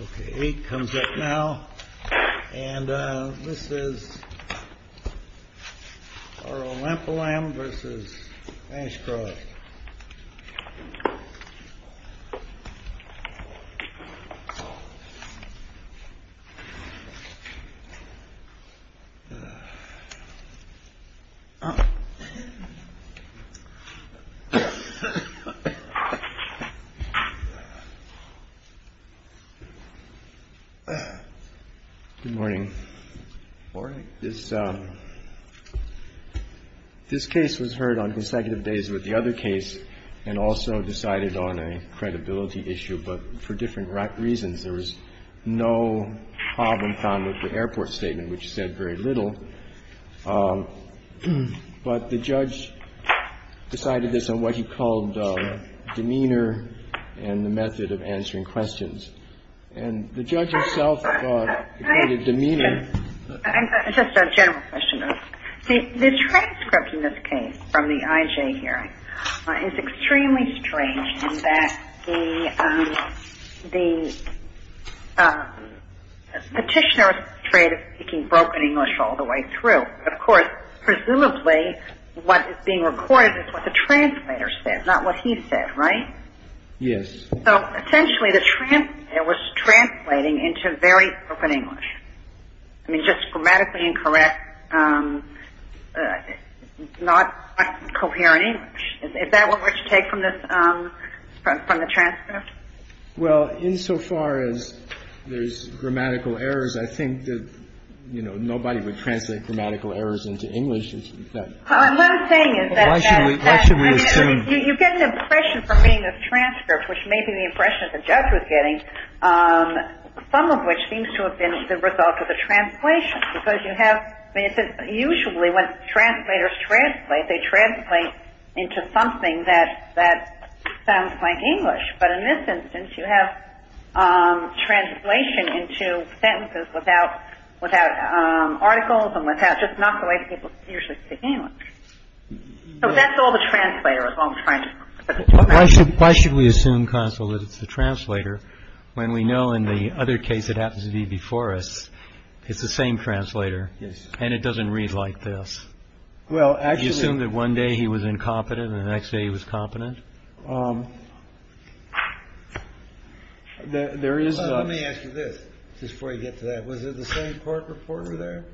Ok, 8 comes up now, and this is Arulampalam v. Ashcroft Good morning. This case was heard on consecutive days with the other case, and also decided on a credibility issue, but for different reasons. There was no problem found with the airport statement, which said very little, but the judge decided this on what he called a demeanor and the method of answering questions. And the judge himself thought it created demeanor. Just a general question, though. The transcript in this case from the IJ hearing is extremely strange in that the petitioner was portrayed as speaking broken English all the way through. So, of course, presumably what is being recorded is what the translator said, not what he said, right? Yes. So, essentially, it was translating into very broken English. I mean, just grammatically incorrect, not coherent English. Is that what you take from the transcript? Well, insofar as there's grammatical errors, I think that, you know, nobody would translate grammatical errors into English. Well, what I'm saying is that you get the impression from reading the transcript, which may be the impression the judge was getting, some of which seems to have been the result of the translation, because you have, I mean, it's usually when translators translate, they translate into something that sounds like English. But in this instance, you have translation into sentences without articles and without just not the way people usually speak English. So that's all the translator was trying to do. Why should we assume, counsel, that it's the translator when we know in the other case it happens to be before us it's the same translator and it doesn't read like this? Well, actually... You assume that one day he was incompetent and the next day he was competent? There is... Let me ask you this, just before you get to that. Was there the same court reporter there?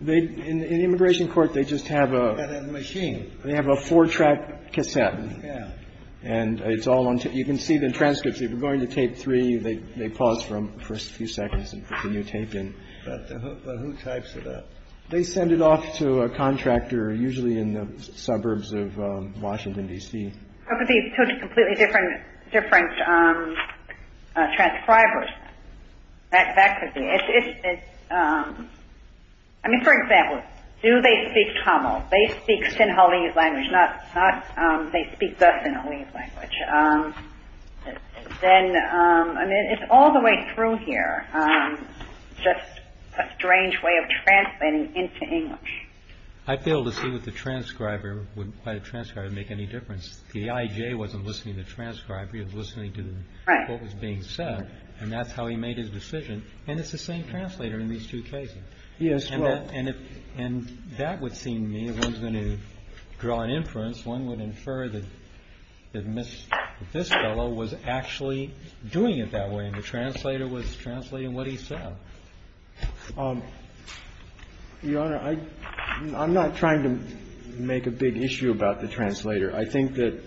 In the immigration court, they just have a... They have a machine. They have a four-track cassette. Yeah. And it's all on tape. You can see the transcripts. If you're going to tape three, they pause for a few seconds and put the new tape in. But who types it up? They send it off to a contractor, usually in the suburbs of Washington, D.C. It could be two completely different transcribers. That could be... I mean, for example, do they speak Tamil? They speak Sinhalese language, not... They speak the Sinhalese language. Then, I mean, it's all the way through here. Just a strange way of translating into English. I failed to see what the transcriber... Why the transcriber would make any difference. The IJ wasn't listening to the transcriber. He was listening to what was being said. And that's how he made his decision. And it's the same translator in these two cases. Yes, well... And that would seem to me, if one's going to draw an inference, one would infer that this fellow was actually doing it that way, and the translator was translating what he said. Your Honor, I'm not trying to make a big issue about the translator. I think that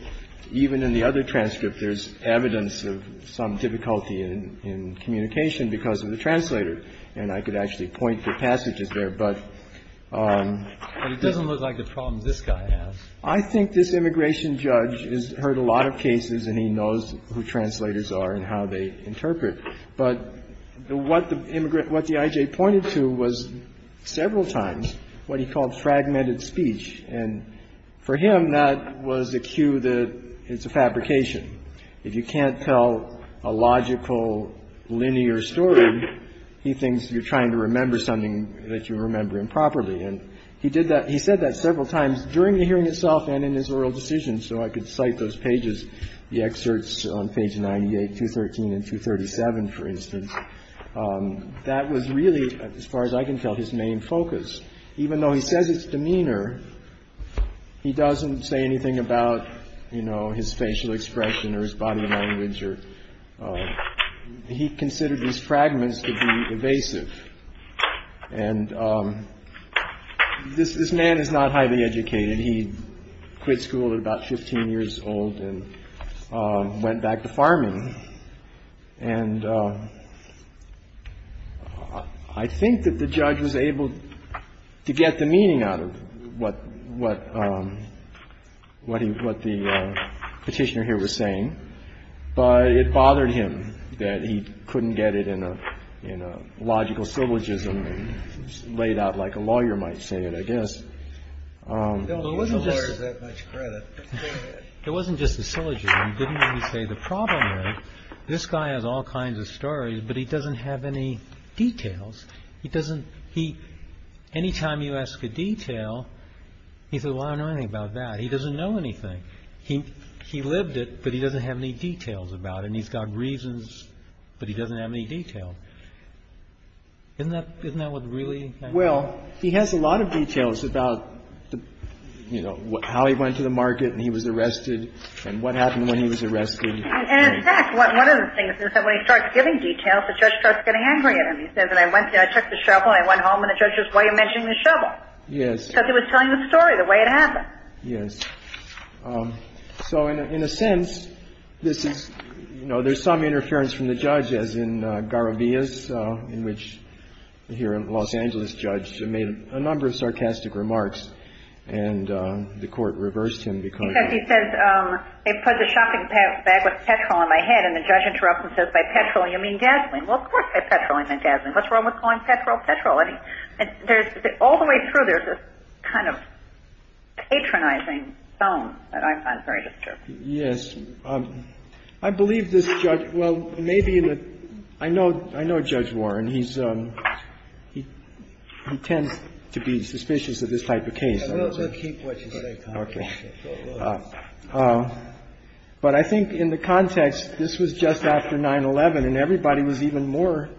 even in the other transcript, there's evidence of some difficulty in communication because of the translator. And I could actually point to passages there, but... But it doesn't look like the problems this guy has. I think this immigration judge has heard a lot of cases, and he knows who translators are and how they interpret. But what the IJ pointed to was, several times, what he called fragmented speech. And for him, that was a cue that it's a fabrication. If you can't tell a logical, linear story, he thinks you're trying to remember something that you remember improperly. And he did that. He said that several times during the hearing itself and in his oral decision. So I could cite those pages, the excerpts on page 98, 213, and 237, for instance. That was really, as far as I can tell, his main focus. Even though he says it's demeanor, he doesn't say anything about, you know, his facial expression or his body language. He considered these fragments to be evasive. And this man is not highly educated. He quit school at about 15 years old and went back to farming. And I think that the judge was able to get the meaning out of what the Petitioner here was saying, but it bothered him that he couldn't get it in a logical syllogism laid out like a lawyer might say it, I guess. He doesn't give the lawyers that much credit. Go ahead. It wasn't just the syllogism. He didn't really say, the problem is, this guy has all kinds of stories, but he doesn't have any details. He doesn't, he, anytime you ask a detail, he says, well, I don't know anything about that. He doesn't know anything. He lived it, but he doesn't have any details about it. And he's got reasons, but he doesn't have any detail. Isn't that what really happened? Well, he has a lot of details about, you know, how he went to the market and he was arrested and what happened when he was arrested. And, in fact, one of the things is that when he starts giving details, the judge starts getting angry at him. He says, I went there, I took the shovel, I went home, and the judge says, why are you mentioning the shovel? Yes. Because he was telling the story the way it happened. Yes. So in a sense, this is, you know, there's some interference from the judge, as in Garavillas, in which here a Los Angeles judge made a number of sarcastic remarks, and the Court reversed him because he said, They put the shopping bag with petrol in my head, and the judge interrupts and says, by petrol you mean gasoline. Well, of course by petrol I meant gasoline. What's wrong with calling petrol petrol? And there's, all the way through, there's this kind of patronizing tone that I find very disturbing. Yes. I believe this judge, well, maybe in the, I know, I know Judge Warren. He's, he tends to be suspicious of this type of case. I will keep what you say, counsel. Okay. But I think in the context, this was just after 9-11, and everybody was even more,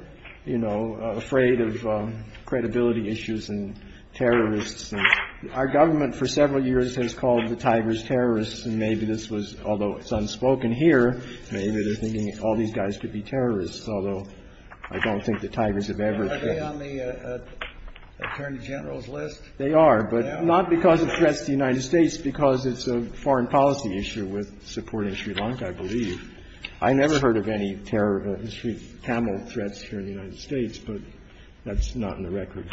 you know, afraid of credibility issues and terrorists. Our government for several years has called the Tigers terrorists, and maybe this was, although it's unspoken here, maybe they're thinking all these guys could be terrorists, although I don't think the Tigers have ever been. Are they on the Attorney General's list? They are, but not because of threats to the United States, because it's a foreign policy issue with supporting Sri Lanka, I believe. I never heard of any terror, history of Tamil threats here in the United States, but that's not in the record.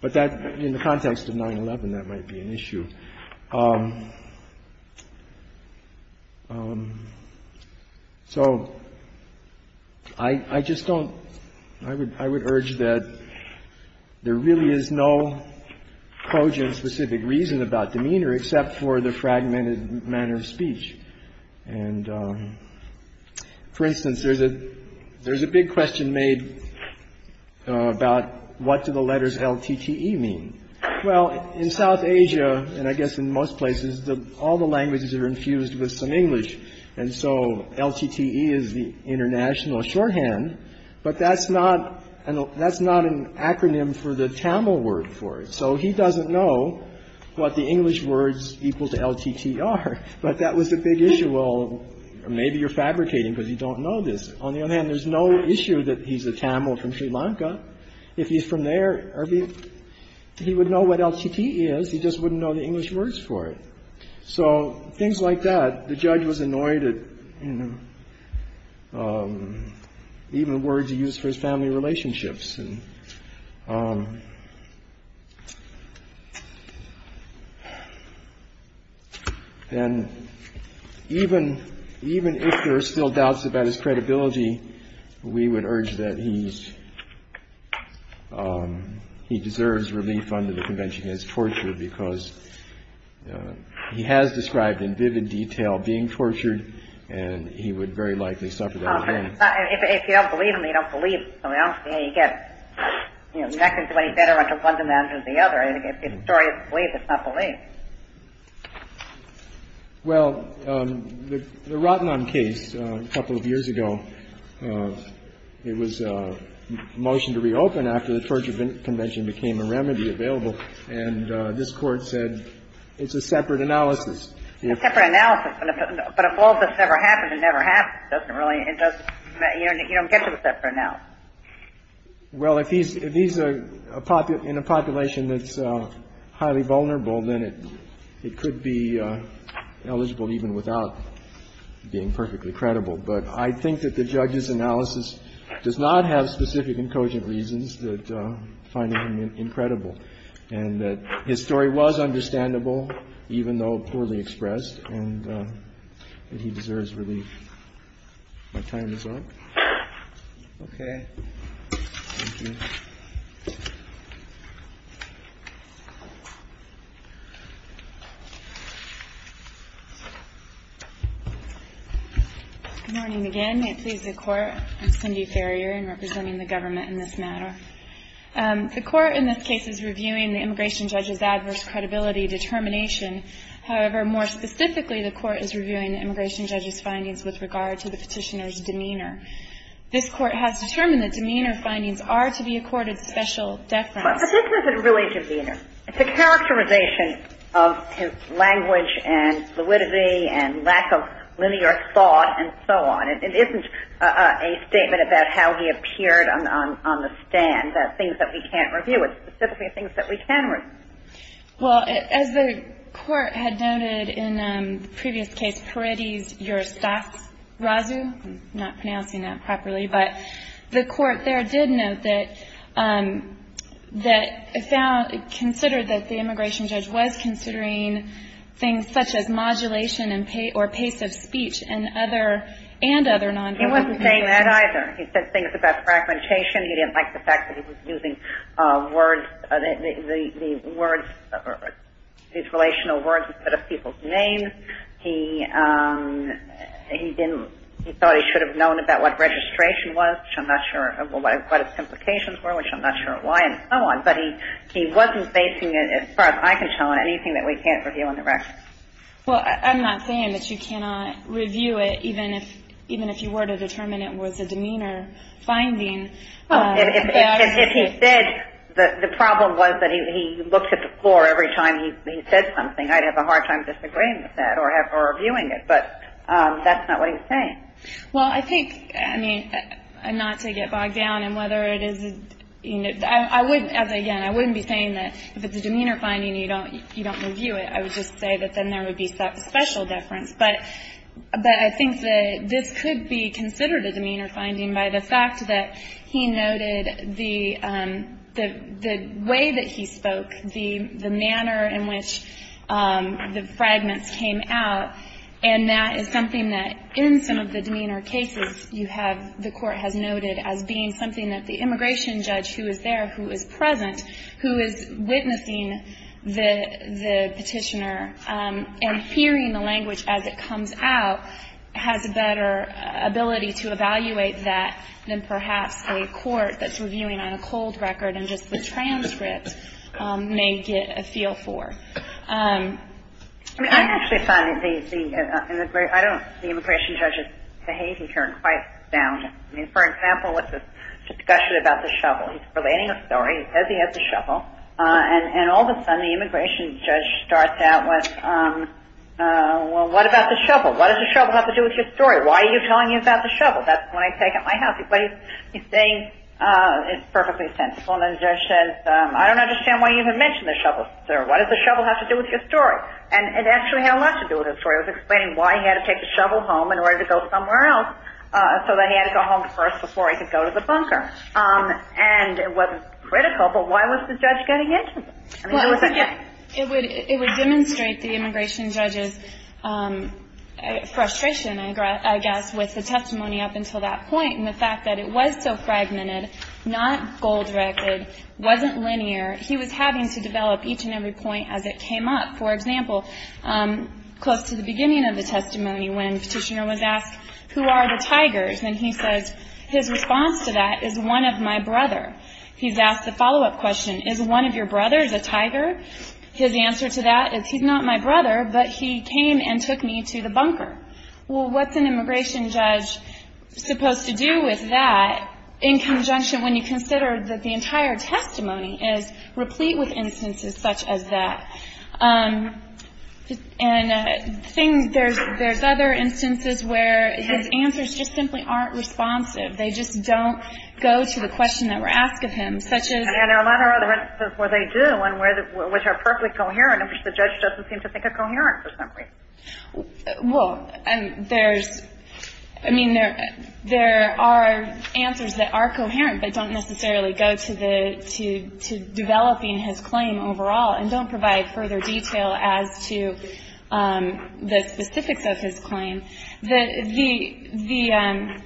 But that, in the context of 9-11, that might be an issue. So I, I just don't, I would, I would urge that there really is no cogent specific reason about demeanor except for the fragmented manner of speech. And, for instance, there's a, there's a big question made about what do the letters L-T-T-E mean? Well, in South Asia, and I guess in most places, the, all the languages are infused with some English, and so L-T-T-E is the international shorthand, but that's not an, that's not an acronym for the Tamil word for it. So he doesn't know what the English words equal to L-T-T are, but that was a big issue. Well, maybe you're fabricating because you don't know this. On the other hand, there's no issue that he's a Tamil from Sri Lanka. If he's from there, he would know what L-T-T is. He just wouldn't know the English words for it. So things like that, the judge was annoyed at, you know, even words he used for his family relationships. And even, even if there are still doubts about his credibility, we would urge that he's, he deserves relief under the convention he has tortured because he has described in vivid detail being tortured, and he would very likely suffer that again. If you don't believe him, you don't believe something else, you know, you get, you know, you're not going to do any better under one dimension than the other. If the story is believed, it's not believed. Well, the Rotenheim case a couple of years ago, it was a motion to reopen after the torture convention became a remedy available, and this Court said it's a separate analysis. It's a separate analysis, but if all this never happened, it never happened. It doesn't really, it doesn't, you don't get to accept it now. Well, if he's, if he's in a population that's highly vulnerable, then it could be eligible even without being perfectly credible. But I think that the judge's analysis does not have specific and cogent reasons that find him incredible, and that his story was understandable, even though poorly expressed, and that he deserves relief. My time is up. Okay. Thank you. Good morning again. May it please the Court. I'm Cindy Ferrier, and representing the government in this matter. The Court in this case is reviewing the immigration judge's adverse credibility determination. However, more specifically, the Court is reviewing the immigration judge's findings with regard to the petitioner's demeanor. This Court has determined that demeanor findings are to be accorded special deference. But this isn't really demeanor. It's a characterization of his language and fluidity and lack of linear thought and so on. It isn't a statement about how he appeared on the stand, things that we can't review. It's specifically things that we can review. Well, as the Court had noted in the previous case, Peretti's Eurostatsrazu, I'm not pronouncing that properly, but the Court there did note that it considered that the immigration judge was considering things such as modulation or pace of speech and other non-verbal things. He wasn't saying that either. He said things about fragmentation. He didn't like the fact that he was using words, these relational words instead of people's names. He thought he should have known about what registration was, which I'm not sure what its implications were, which I'm not sure why, and so on. But he wasn't basing it, as far as I can tell, on anything that we can't review in the record. Well, I'm not saying that you cannot review it even if you were to determine it was a demeanor finding. If he said the problem was that he looked at the floor every time he said something, I'd have a hard time disagreeing with that or reviewing it. But that's not what he was saying. Well, I think, I mean, not to get bogged down in whether it is, you know, I wouldn't, as again, I wouldn't be saying that if it's a demeanor finding, you don't review it. I would just say that then there would be special deference. But I think that this could be considered a demeanor finding by the fact that he noted the way that he spoke, the manner in which the fragments came out, and that is something that in some of the demeanor cases, you have, the Court has noted as being something that the immigration judge who is there, who is present, who is witnessing the petitioner and hearing the language as it comes out, has a better ability to evaluate that than perhaps a court that's reviewing on a cold record and just the transcripts may get a feel for. I mean, I actually find the immigration judge's behavior to be quite sound. I mean, for example, with the discussion about the shovel. He's relating a story. He says he has the shovel. And all of a sudden, the immigration judge starts out with, well, what about the shovel? What does the shovel have to do with your story? Why are you telling me about the shovel? That's what I take at my house. He's saying it's perfectly sensible. And the judge says, I don't understand why you even mention the shovel, sir. What does the shovel have to do with your story? And it actually had a lot to do with his story. It was explaining why he had to take the shovel home in order to go somewhere else, so that he had to go home first before he could go to the bunker. And it was critical. But why was the judge getting into it? I mean, there was a difference. It would demonstrate the immigration judge's frustration, I guess, with the testimony up until that point and the fact that it was so fragmented, not gold-recorded, wasn't linear. He was having to develop each and every point as it came up. For example, close to the beginning of the testimony, when Petitioner was asked, who are the tigers? And he says, his response to that is, one of my brother. He's asked the follow-up question, is one of your brothers a tiger? His answer to that is, he's not my brother, but he came and took me to the bunker. Well, what's an immigration judge supposed to do with that in conjunction when you consider that the entire testimony is replete with instances such as that? And there's other instances where his answers just simply aren't responsive. They just don't go to the question that we're asked of him, such as — And there are a lot of other instances where they do and which are perfectly coherent, in which the judge doesn't seem to think are coherent for some reason. Well, there's — I mean, there are answers that are coherent but don't necessarily go to the — to developing his claim overall and don't provide further detail as to the specifics of his claim. The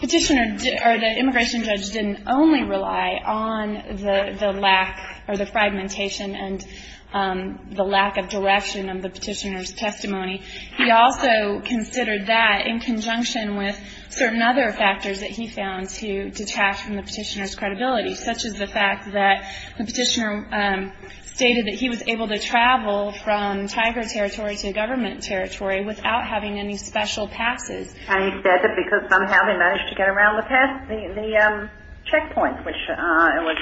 Petitioner — or the immigration judge didn't only rely on the lack or the fragmentation and the lack of direction of the Petitioner's testimony. He also considered that in conjunction with certain other factors that he found to detach from the Petitioner's credibility, such as the fact that the Petitioner stated that he was able to travel from tiger territory to government territory without having any special passes. And he said that because somehow they managed to get around the pass — the checkpoint, which was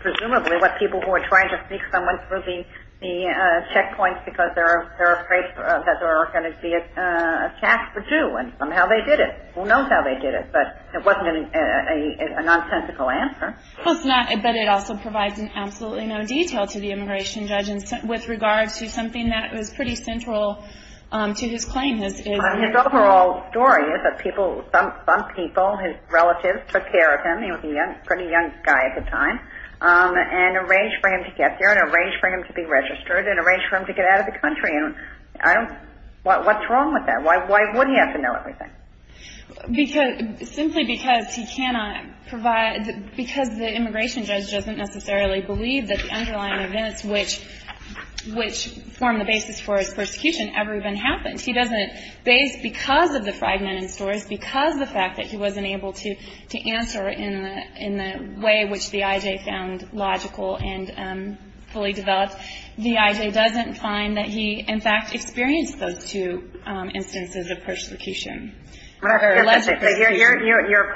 presumably what people who were trying to sneak someone through the checkpoints because they're afraid that they're going to be attacked for two. And somehow they did it. Who knows how they did it? But it wasn't a nonsensical answer. Well, it's not — but it also provides absolutely no detail to the immigration judge with regards to something that was pretty central to his claim. His overall story is that people — some people, his relatives took care of him. He was a pretty young guy at the time and arranged for him to get there and arranged for him to be registered and arranged for him to get out of the country. And I don't — what's wrong with that? Why would he have to know everything? Because — simply because he cannot provide — because the immigration judge doesn't necessarily believe that the underlying events which form the basis for his persecution ever even happened. He doesn't — based — because of the fragmented stories, because of the fact that he wasn't able to answer in the way which the I.J. found logical and fully developed, the I.J. doesn't find that he, in fact, experienced those two instances of persecution. Your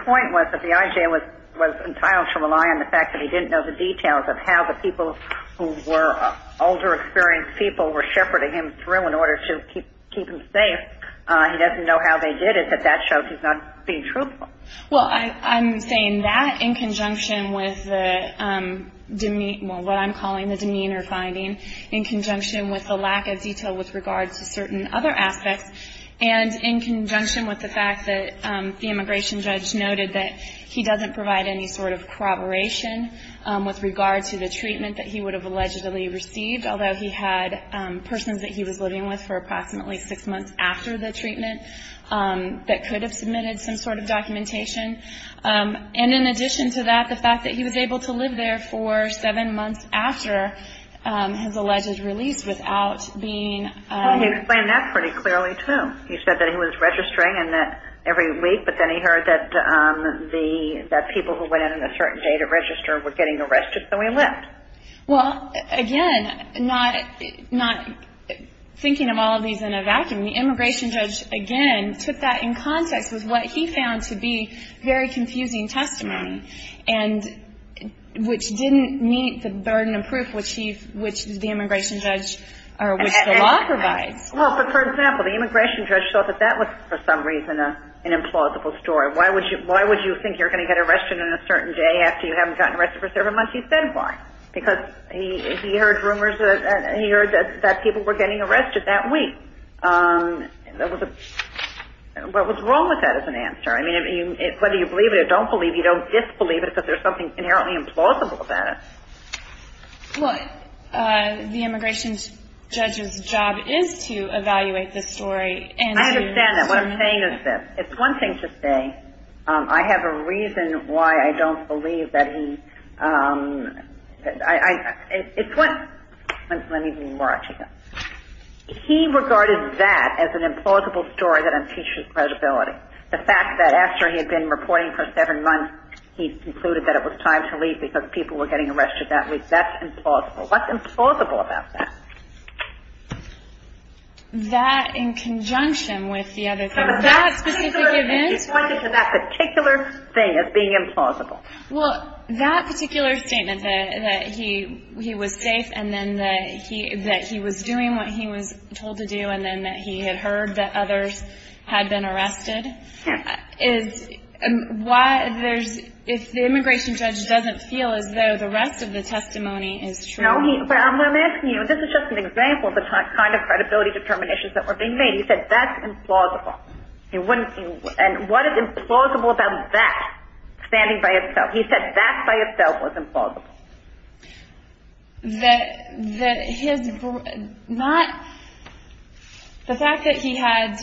point was that the I.J. was entitled to rely on the fact that he didn't know the details of how the people who were older experienced people were shepherding him through in order to keep him safe. He doesn't know how they did it, but that shows he's not being truthful. Well, I'm saying that in conjunction with the — well, what I'm calling the demeanor finding, in conjunction with the lack of detail with regards to certain other aspects, and in conjunction with the fact that the immigration judge noted that he doesn't provide any sort of corroboration with regards to the treatment that he would have allegedly received, although he had persons that he was living with for approximately six months after the treatment that could have submitted some sort of documentation. And in addition to that, the fact that he was able to live there for seven months after his alleged release without being — Well, he explained that pretty clearly, too. He said that he was registering every week, but then he heard that people who went in on a certain day to register were getting arrested, so he left. Well, again, not thinking of all of these in a vacuum, the immigration judge, again, took that in context with what he found to be very confusing testimony, which didn't meet the burden of proof which the immigration judge — or which the law provides. Well, but for example, the immigration judge thought that that was, for some reason, an implausible story. Why would you think you're going to get arrested on a certain day after you haven't gotten arrested for seven months? He said why. Because he heard rumors that — he heard that people were getting arrested that week. What was wrong with that as an answer? I mean, whether you believe it or don't believe it, you don't disbelieve it because there's something inherently implausible about it. What the immigration judge's job is to evaluate the story and to — I understand that. What I'm saying is this. It's one thing to say, I have a reason why I don't believe that he — it's one — let me be more articulate. He regarded that as an implausible story that impeaches credibility. The fact that after he had been reporting for seven months, he concluded that it was time to leave because people were getting arrested that week, that's implausible. What's implausible about that? That in conjunction with the other things. That specific event — He pointed to that particular thing as being implausible. Well, that particular statement, that he was safe and then that he was doing what he was told to do and then that he had heard that others had been arrested — Yes. If the immigration judge doesn't feel as though the rest of the testimony is true — No, but I'm asking you, this is just an example of the kind of credibility determinations that were being made. He said that's implausible. And what is implausible about that standing by itself? He said that by itself was implausible. That his — not — the fact that he had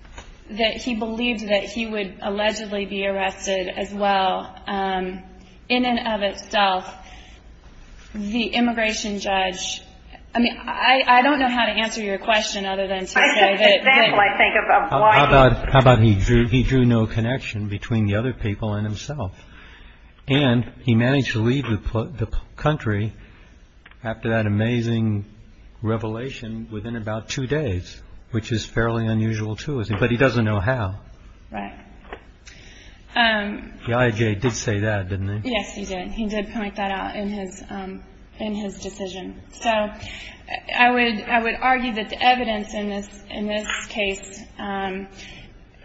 — that he believed that he would allegedly be arrested as well, in and of itself, the immigration judge — I mean, I don't know how to answer your question other than to say that — It's an example, I think, of why — How about he drew no connection between the other people and himself? And he managed to leave the country after that amazing revelation within about two days, which is fairly unusual, too, isn't it? But he doesn't know how. Right. The IAJ did say that, didn't they? Yes, he did. He did point that out in his decision. So I would argue that the evidence in this case,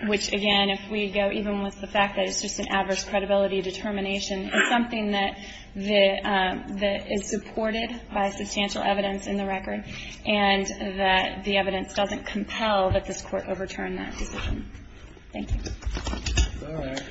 which, again, if we go even with the fact that it's just an adverse credibility determination, is something that is supported by substantial evidence in the record, and that the evidence doesn't compel that this Court overturn that decision. Thank you. All right.